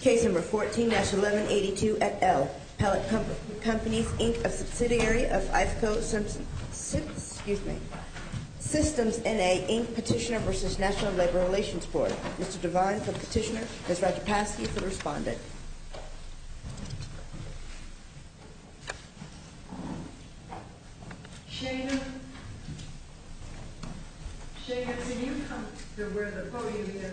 Case No. 14-1182 at L. Pallet Companies, Inc., a subsidiary of IFCO Systems, NA, Inc. Petitioner v. National Labor Relations Board. Mr. Devine, Petitioner. Ms. Rajapasky is the respondent. Shana, Shana, can you come to where the podium is?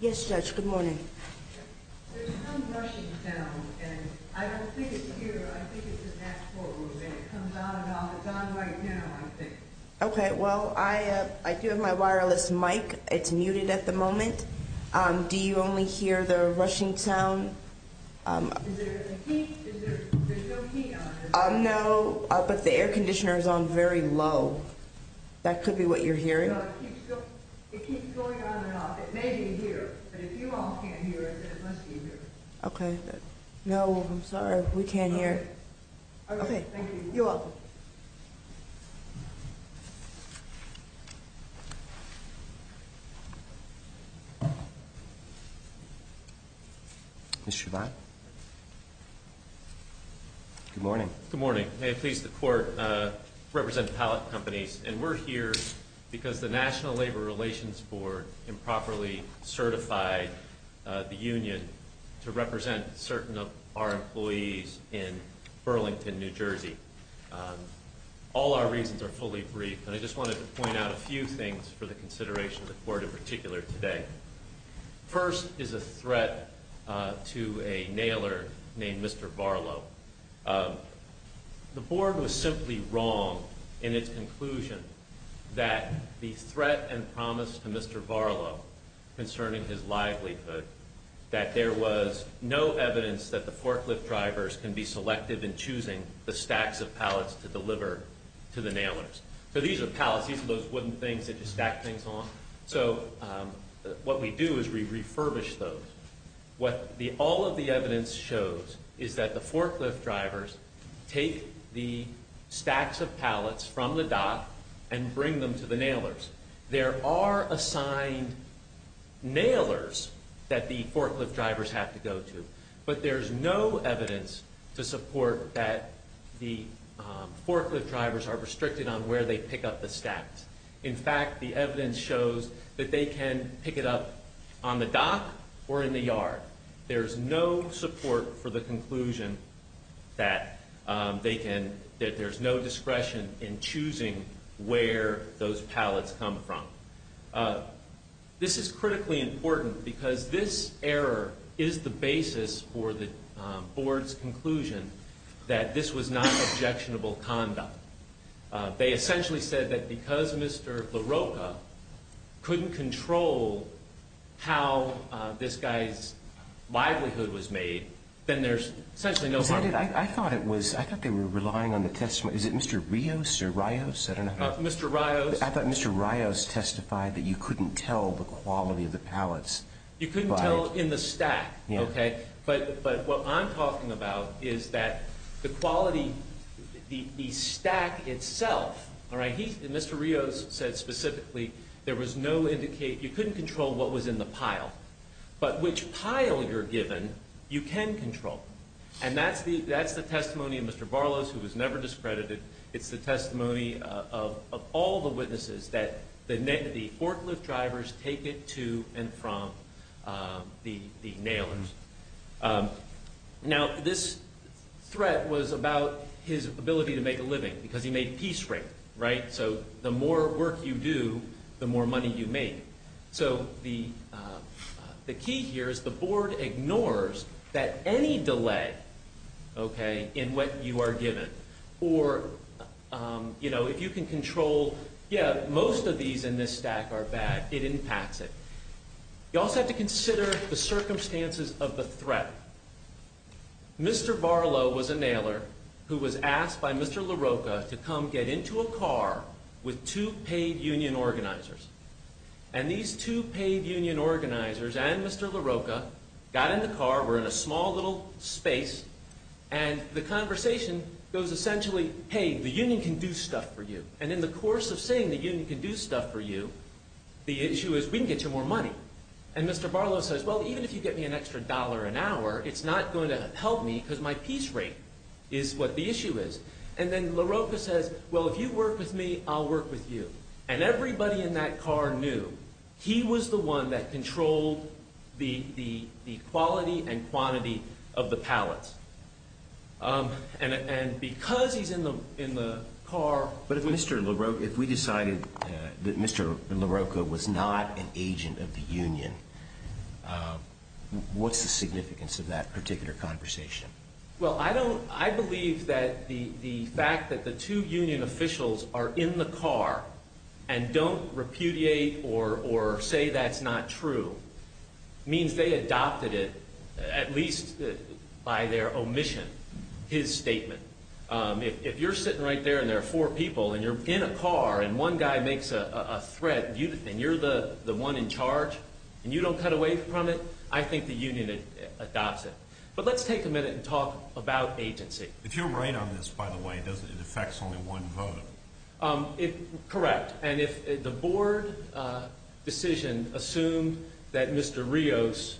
Yes, Judge, good morning. There's some rushing sound, and I don't think it's here. I think it's in that courtroom, and it comes on and off. It's on right now, I think. Okay, well, I do have my wireless mic. It's muted at the moment. Do you only hear the rushing sound? Is there a key? There's no key on it, is there? No, but the air conditioner is on very low. That could be what you're hearing. No, it keeps going on and off. It may be here, but if you all can't hear it, it must be here. Okay. No, I'm sorry. We can't hear. Okay, thank you. You're welcome. Mr. Shabbat. Good morning. Good morning. May it please the Court, I represent Pallet Companies, and we're here because the National Labor Relations Board improperly certified the union to represent certain of our employees in Burlington, New Jersey. All our reasons are fully brief, and I just wanted to point out a few things for the consideration of the Court in particular today. First is a threat to a nailer named Mr. Varlow. The Board was simply wrong in its conclusion that the threat and promise to Mr. Varlow concerning his livelihood, that there was no evidence that the forklift drivers can be selective in choosing the stacks of pallets to deliver to the nailers. So these are pallets. These are those wooden things that you stack things on. So what we do is we refurbish those. What all of the evidence shows is that the forklift drivers take the stacks of pallets from the dock and bring them to the nailers. There are assigned nailers that the forklift drivers have to go to, but there's no evidence to support that the forklift drivers are restricted on where they pick up the stacks. In fact, the evidence shows that they can pick it up on the dock or in the yard. There's no support for the conclusion that there's no discretion in choosing where those pallets come from. This is critically important because this error is the basis for the Board's conclusion that this was not objectionable conduct. They essentially said that because Mr. LaRocca couldn't control how this guy's livelihood was made, then there's essentially no harm. I thought they were relying on the testimony. Is it Mr. Rios or Rios? I don't know. Mr. Rios. I thought Mr. Rios testified that you couldn't tell the quality of the pallets. You couldn't tell in the stack. But what I'm talking about is that the quality, the stack itself, Mr. Rios said specifically, there was no indication. You couldn't control what was in the pile, but which pile you're given, you can control. And that's the testimony of Mr. Barlos, who was never discredited. It's the testimony of all the witnesses that the forklift drivers take it to and from the nailers. Now, this threat was about his ability to make a living because he made peace rate, right? So the more work you do, the more money you make. So the key here is the board ignores that any delay, okay, in what you are given. Or, you know, if you can control, yeah, most of these in this stack are bad, it impacts it. You also have to consider the circumstances of the threat. Mr. Barlos was a nailer who was asked by Mr. LaRocca to come get into a car with two paid union organizers. And these two paid union organizers and Mr. LaRocca got in the car, were in a small little space, and the conversation goes essentially, hey, the union can do stuff for you. And in the course of saying the union can do stuff for you, the issue is we can get you more money. And Mr. Barlos says, well, even if you get me an extra dollar an hour, it's not going to help me because my peace rate is what the issue is. And then LaRocca says, well, if you work with me, I'll work with you. And everybody in that car knew he was the one that controlled the quality and quantity of the pallets. And because he's in the car. But if we decided that Mr. LaRocca was not an agent of the union, what's the significance of that particular conversation? Well, I believe that the fact that the two union officials are in the car and don't repudiate or say that's not true, means they adopted it at least by their omission, his statement. If you're sitting right there and there are four people and you're in a car and one guy makes a threat and you're the one in charge and you don't cut away from it, I think the union adopts it. But let's take a minute and talk about agency. If you're right on this, by the way, it affects only one voter. Correct. And if the board decision assumed that Mr. Rios,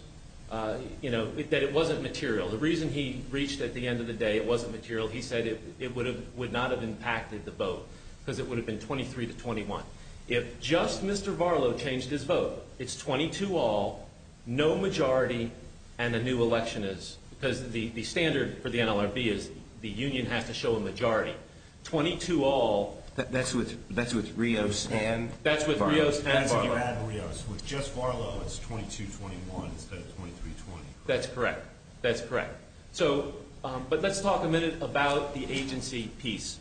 you know, that it wasn't material, the reason he reached at the end of the day it wasn't material, he said it would not have impacted the vote because it would have been 23 to 21. If just Mr. Barlow changed his vote, it's 22 all, no majority, and a new election is. Because the standard for the NLRB is the union has to show a majority. 22 all. That's with Rios and Barlow. And Barlow. With just Barlow it's 22 to 21 instead of 23 to 20. That's correct. That's correct. But let's talk a minute about the agency piece.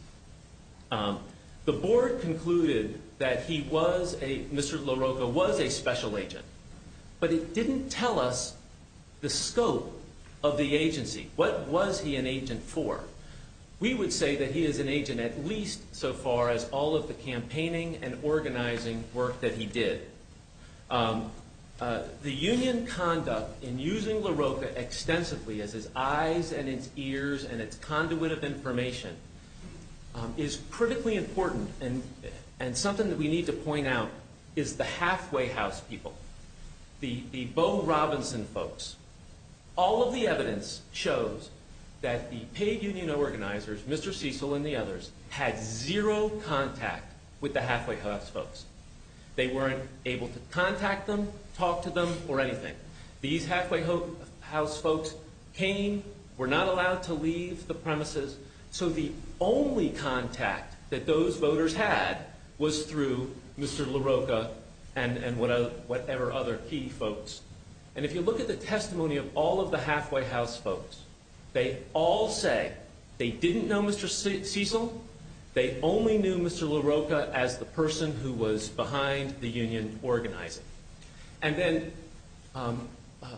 The board concluded that he was a, Mr. LaRocca was a special agent, but it didn't tell us the scope of the agency. What was he an agent for? We would say that he is an agent at least so far as all of the campaigning and organizing work that he did. The union conduct in using LaRocca extensively as his eyes and its ears and its conduit of information is critically important. And something that we need to point out is the halfway house people. The Bo Robinson folks. All of the evidence shows that the paid union organizers, Mr. Cecil and the others, had zero contact with the halfway house folks. They weren't able to contact them, talk to them, or anything. These halfway house folks came, were not allowed to leave the premises. So the only contact that those voters had was through Mr. LaRocca and whatever other key folks. And if you look at the testimony of all of the halfway house folks, they all say they didn't know Mr. Cecil. They only knew Mr. LaRocca as the person who was behind the union organizing. And then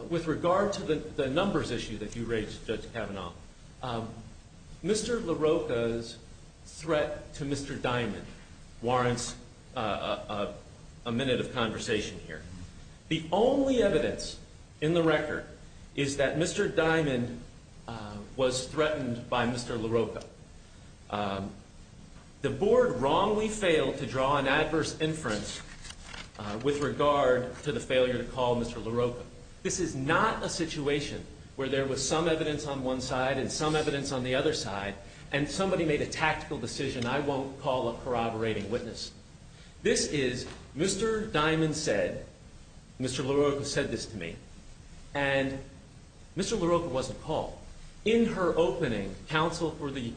with regard to the numbers issue that you raised, Judge Kavanaugh, Mr. LaRocca's threat to Mr. Diamond warrants a minute of conversation here. The only evidence in the record is that Mr. Diamond was threatened by Mr. LaRocca. The board wrongly failed to draw an adverse inference with regard to the failure to call Mr. LaRocca. This is not a situation where there was some evidence on one side and some evidence on the other side and somebody made a tactical decision, I won't call a corroborating witness. This is Mr. Diamond said, Mr. LaRocca said this to me, and Mr. LaRocca wasn't called. In her opening, counsel for the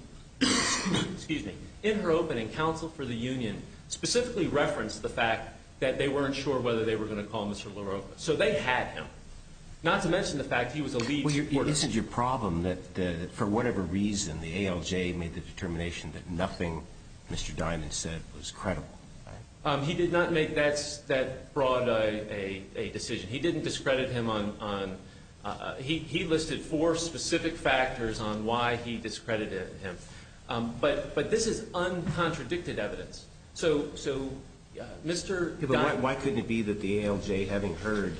union specifically referenced the fact that they weren't sure whether they were going to call Mr. LaRocca. So they had him, not to mention the fact he was a lead supporter. Well, this is your problem, that for whatever reason the ALJ made the determination that nothing Mr. Diamond said was credible. He did not make that broad a decision. He didn't discredit him on – he listed four specific factors on why he discredited him. But this is uncontradicted evidence. But why couldn't it be that the ALJ, having heard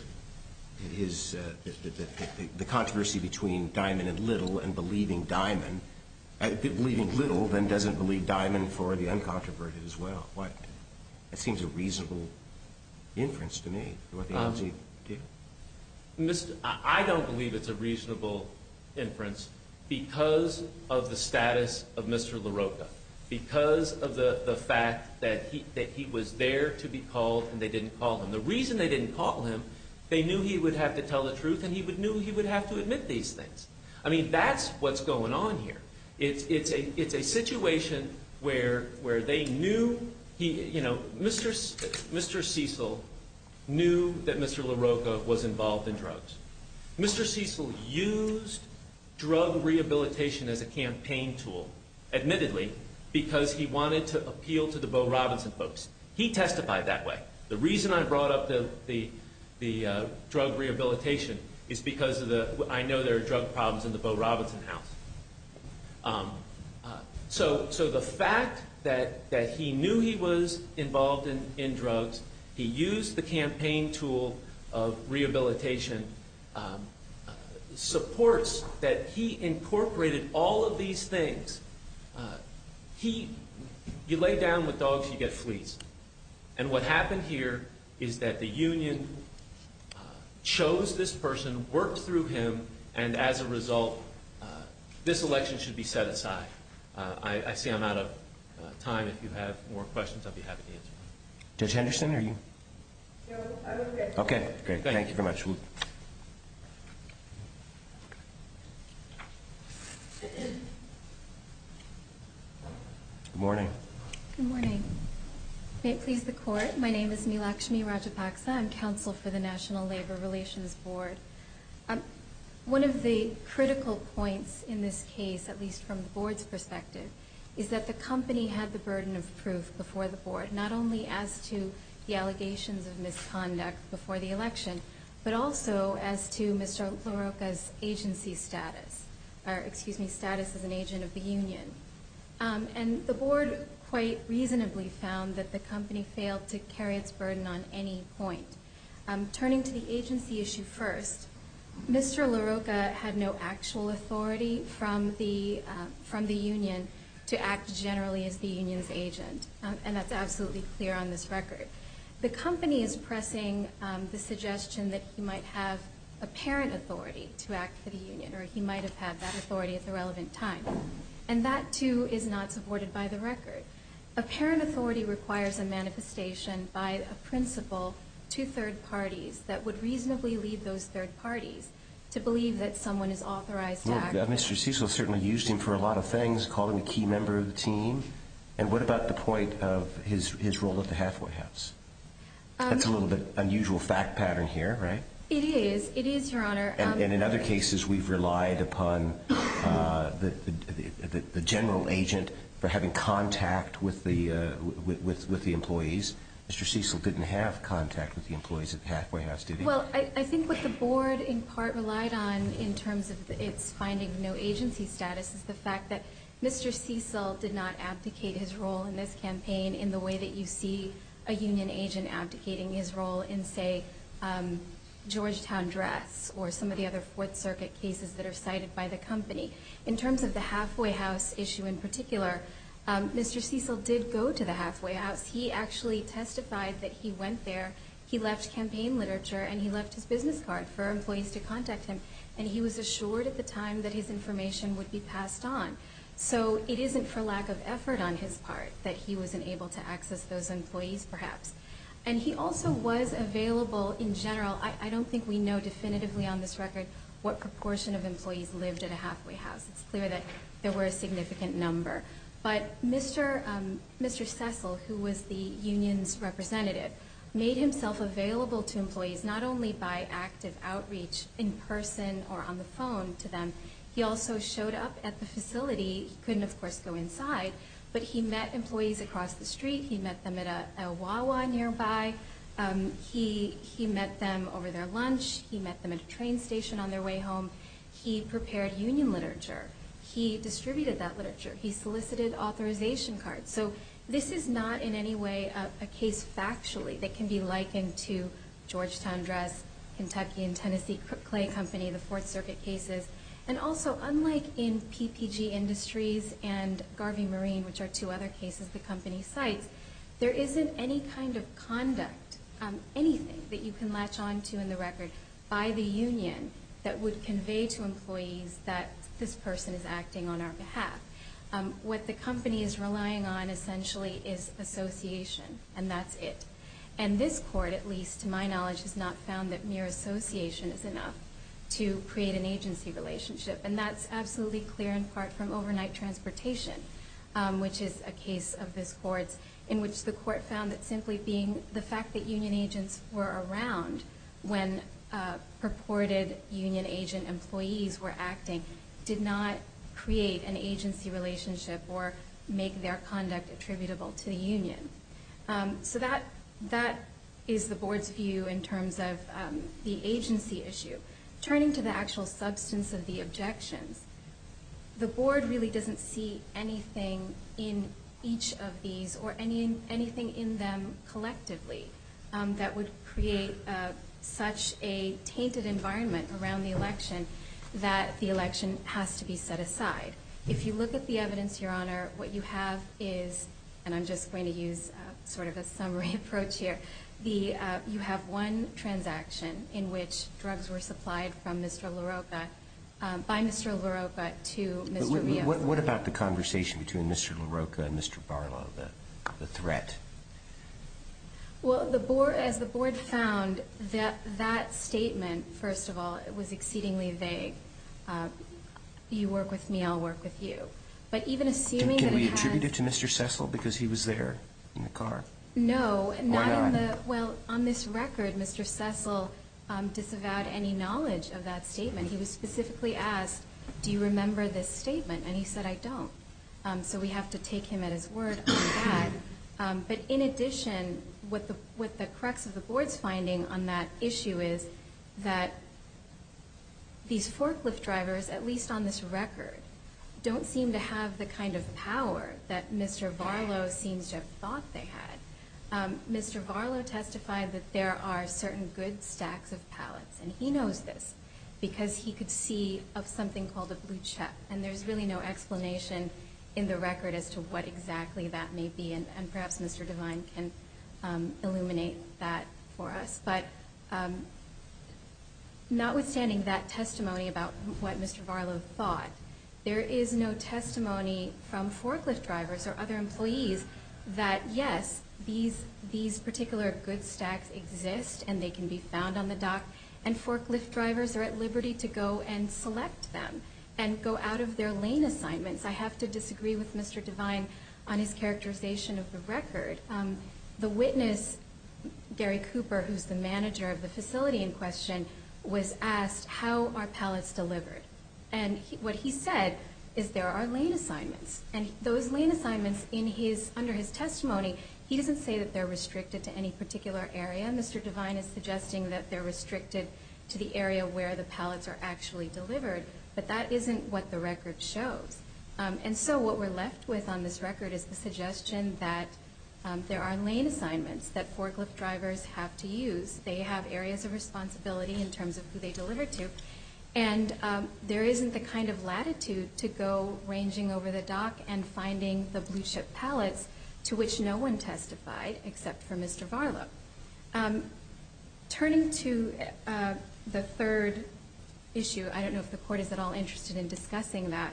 the controversy between Diamond and Little and believing Diamond, believing Little then doesn't believe Diamond for the uncontroverted as well? That seems a reasonable inference to me. I don't believe it's a reasonable inference because of the status of Mr. LaRocca, because of the fact that he was there to be called and they didn't call him. The reason they didn't call him, they knew he would have to tell the truth and he knew he would have to admit these things. I mean, that's what's going on here. It's a situation where they knew – you know, Mr. Cecil knew that Mr. LaRocca was involved in drugs. Mr. Cecil used drug rehabilitation as a campaign tool, admittedly, because he wanted to appeal to the Bo Robinson folks. He testified that way. The reason I brought up the drug rehabilitation is because I know there are drug problems in the Bo Robinson house. So the fact that he knew he was involved in drugs, he used the campaign tool of rehabilitation, supports that he incorporated all of these things. He – you lay down with dogs, you get fleas. And what happened here is that the union chose this person, worked through him, and as a result, this election should be set aside. I see I'm out of time. If you have more questions, I'll be happy to answer them. Judge Henderson, are you – No, I'm okay. Okay, great. Thank you very much. Good morning. Good morning. May it please the Court, my name is Neelakshmi Rajapaksa. I'm counsel for the National Labor Relations Board. One of the critical points in this case, at least from the Board's perspective, is that the company had the burden of proof before the Board, not only as to the allegations of misconduct before the election, but also as to Mr. LaRocca's agency status – or, excuse me, status as an agent of the union. And the Board quite reasonably found that the company failed to carry its burden on any point. Turning to the agency issue first, Mr. LaRocca had no actual authority from the union to act generally as the union's agent. And that's absolutely clear on this record. The company is pressing the suggestion that he might have apparent authority to act for the union, or he might have had that authority at the relevant time. And that, too, is not supported by the record. Apparent authority requires a manifestation by a principal to third parties that would reasonably lead those third parties to believe that someone is authorized to act. Well, Mr. Cecil certainly used him for a lot of things, called him a key member of the team. And what about the point of his role at the halfway house? That's a little bit of an unusual fact pattern here, right? It is. It is, Your Honor. And in other cases, we've relied upon the general agent for having contact with the employees. Mr. Cecil didn't have contact with the employees at the halfway house, did he? Well, I think what the board, in part, relied on in terms of its finding no agency status is the fact that Mr. Cecil did not abdicate his role in this campaign in the way that you see a union agent abdicating his role in, say, Georgetown Dress or some of the other Fourth Circuit cases that are cited by the company. In terms of the halfway house issue in particular, Mr. Cecil did go to the halfway house. He actually testified that he went there. He left campaign literature and he left his business card for employees to contact him. And he was assured at the time that his information would be passed on. So it isn't for lack of effort on his part that he wasn't able to access those employees, perhaps. And he also was available in general. I don't think we know definitively on this record what proportion of employees lived at a halfway house. It's clear that there were a significant number. But Mr. Cecil, who was the union's representative, made himself available to employees not only by active outreach in person or on the phone to them. He also showed up at the facility. He couldn't, of course, go inside. But he met employees across the street. He met them at a Wawa nearby. He met them over their lunch. He met them at a train station on their way home. He prepared union literature. He distributed that literature. He solicited authorization cards. So this is not in any way a case factually that can be likened to Georgetown Dress, Kentucky and Tennessee Clay Company, the Fourth Circuit cases. And also, unlike in PPG Industries and Garvey Marine, which are two other cases the company cites, there isn't any kind of conduct, anything that you can latch on to in the record by the union that would convey to employees that this person is acting on our behalf. What the company is relying on, essentially, is association. And that's it. And this court, at least to my knowledge, has not found that mere association is enough to create an agency relationship. And that's absolutely clear in part from overnight transportation, which is a case of this court's, in which the court found that simply being the fact that union agents were around when purported union agent employees were acting did not create an agency relationship or make their conduct attributable to the union. So that is the board's view in terms of the agency issue. Turning to the actual substance of the objections, the board really doesn't see anything in each of these or anything in them collectively that would create such a tainted environment around the election that the election has to be set aside. If you look at the evidence, Your Honor, what you have is, and I'm just going to use sort of a summary approach here, you have one transaction in which drugs were supplied from Mr. LaRocca, by Mr. LaRocca to Mr. Rios. What about the conversation between Mr. LaRocca and Mr. Barlow, the threat? Well, as the board found, that statement, first of all, was exceedingly vague. You work with me, I'll work with you. Can we attribute it to Mr. Cecil because he was there in the car? No. Why not? Well, on this record, Mr. Cecil disavowed any knowledge of that statement. He was specifically asked, do you remember this statement? And he said, I don't. So we have to take him at his word on that. But in addition, what the crux of the board's finding on that issue is that these forklift drivers, at least on this record, don't seem to have the kind of power that Mr. Barlow seems to have thought they had. Mr. Barlow testified that there are certain good stacks of pallets, and he knows this, because he could see of something called a blue check, and there's really no explanation in the record as to what exactly that may be, and perhaps Mr. Devine can illuminate that for us. But notwithstanding that testimony about what Mr. Barlow thought, there is no testimony from forklift drivers or other employees that, yes, these particular good stacks exist and they can be found on the dock, and forklift drivers are at liberty to go and select them and go out of their lane assignments. I have to disagree with Mr. Devine on his characterization of the record. The witness, Gary Cooper, who's the manager of the facility in question, was asked how are pallets delivered, and what he said is there are lane assignments, and those lane assignments under his testimony, he doesn't say that they're restricted to any particular area. Mr. Devine is suggesting that they're restricted to the area where the pallets are actually delivered, but that isn't what the record shows. And so what we're left with on this record is the suggestion that there are lane assignments that forklift drivers have to use. They have areas of responsibility in terms of who they deliver to, and there isn't the kind of latitude to go ranging over the dock and finding the blue-chip pallets, to which no one testified except for Mr. Barlow. Turning to the third issue, I don't know if the Court is at all interested in discussing that,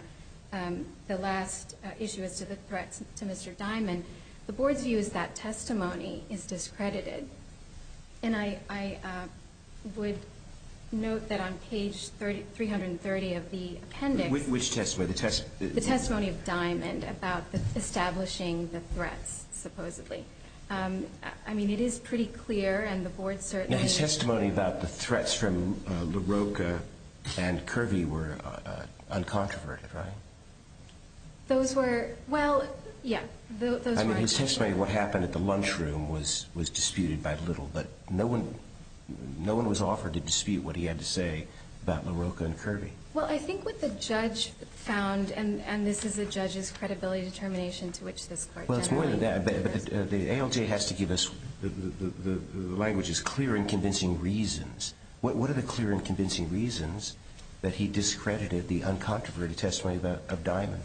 the last issue is to the threats to Mr. Diamond. The Board's view is that testimony is discredited, and I would note that on page 330 of the appendix Which testimony? The testimony of Diamond about establishing the threats, supposedly. I mean, it is pretty clear, and the Board certainly His testimony about the threats from LaRocca and Kirby were uncontroverted, right? Those were, well, yeah. I mean, his testimony of what happened at the lunchroom was disputed by little, but no one was offered to dispute what he had to say about LaRocca and Kirby. Well, I think what the judge found, and this is a judge's credibility determination to which this Court generally But the ALJ has to give us the language's clear and convincing reasons. What are the clear and convincing reasons that he discredited the uncontroverted testimony of Diamond?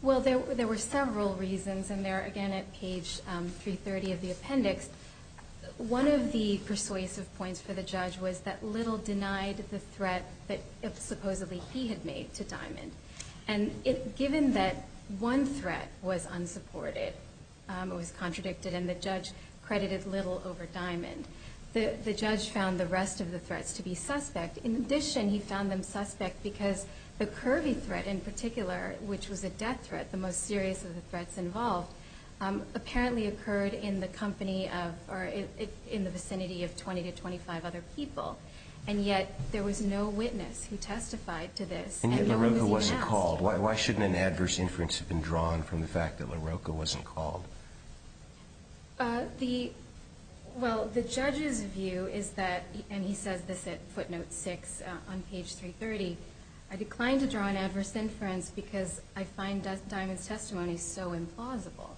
Well, there were several reasons, and they're, again, at page 330 of the appendix. One of the persuasive points for the judge was that little denied the threat that supposedly he had made to Diamond. And given that one threat was unsupported, it was contradicted, and the judge credited little over Diamond, the judge found the rest of the threats to be suspect. In addition, he found them suspect because the Kirby threat in particular, which was a death threat, the most serious of the threats involved, apparently occurred in the vicinity of 20 to 25 other people, and yet there was no witness who testified to this. And yet LaRocca wasn't called. Why shouldn't an adverse inference have been drawn from the fact that LaRocca wasn't called? Well, the judge's view is that, and he says this at footnote 6 on page 330, I declined to draw an adverse inference because I find Diamond's testimony so implausible.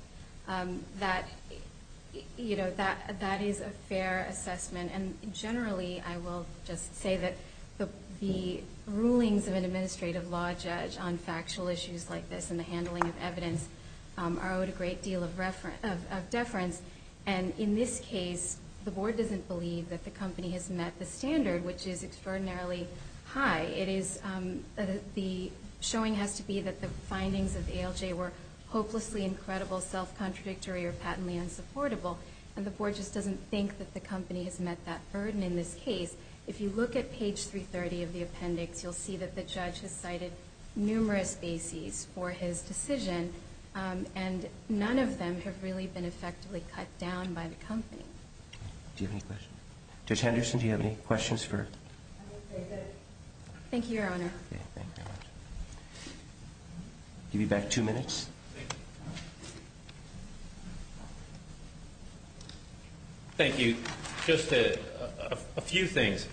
That, you know, that is a fair assessment. And generally, I will just say that the rulings of an administrative law judge on factual issues like this and the handling of evidence are owed a great deal of deference. And in this case, the board doesn't believe that the company has met the standard, which is extraordinarily high. The showing has to be that the findings of the ALJ were hopelessly incredible, self-contradictory, or patently unsupportable, and the board just doesn't think that the company has met that burden in this case. If you look at page 330 of the appendix, you'll see that the judge has cited numerous bases for his decision, and none of them have really been effectively cut down by the company. Do you have any questions? Judge Henderson, do you have any questions? Thank you, Your Honor. Give you back two minutes. Thank you. Just a few things.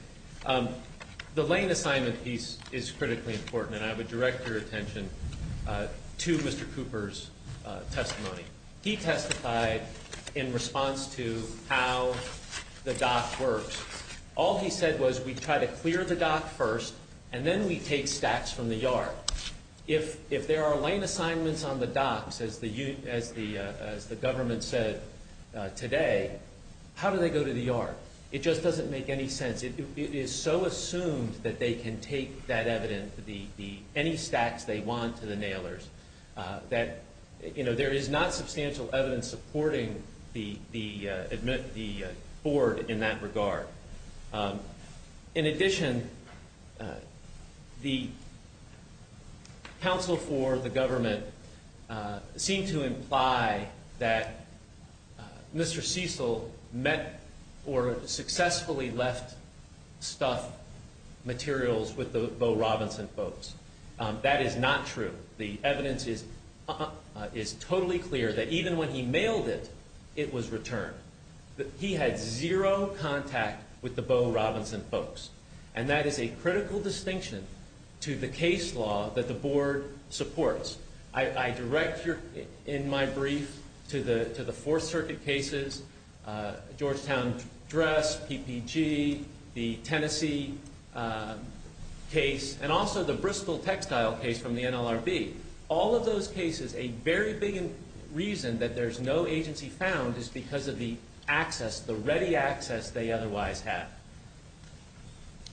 The lane assignment piece is critically important, and I would direct your attention to Mr. Cooper's testimony. He testified in response to how the doc works. All he said was, we try to clear the doc first, and then we take stacks from the yard. If there are lane assignments on the docs, as the government said today, how do they go to the yard? It just doesn't make any sense. It is so assumed that they can take that evidence, any stacks they want to the nailers, that there is not substantial evidence supporting the board in that regard. In addition, the counsel for the government seemed to imply that Mr. Cecil met or successfully left stuff materials with the Bo Robinson folks. That is not true. The evidence is totally clear that even when he mailed it, it was returned. He had zero contact with the Bo Robinson folks, and that is a critical distinction to the case law that the board supports. I direct, in my brief, to the Fourth Circuit cases, Georgetown Dress, PPG, the Tennessee case, and also the Bristol textile case from the NLRB. All of those cases, a very big reason that there is no agency found is because of the access, the ready access they otherwise had.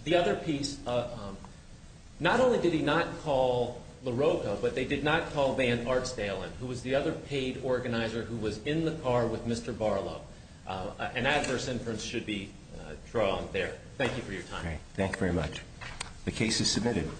The other piece, not only did he not call LaRocca, but they did not call Van Artsdalen, who was the other paid organizer who was in the car with Mr. Barlow. An adverse inference should be drawn there. Thank you for your time. Thank you very much. The case is submitted.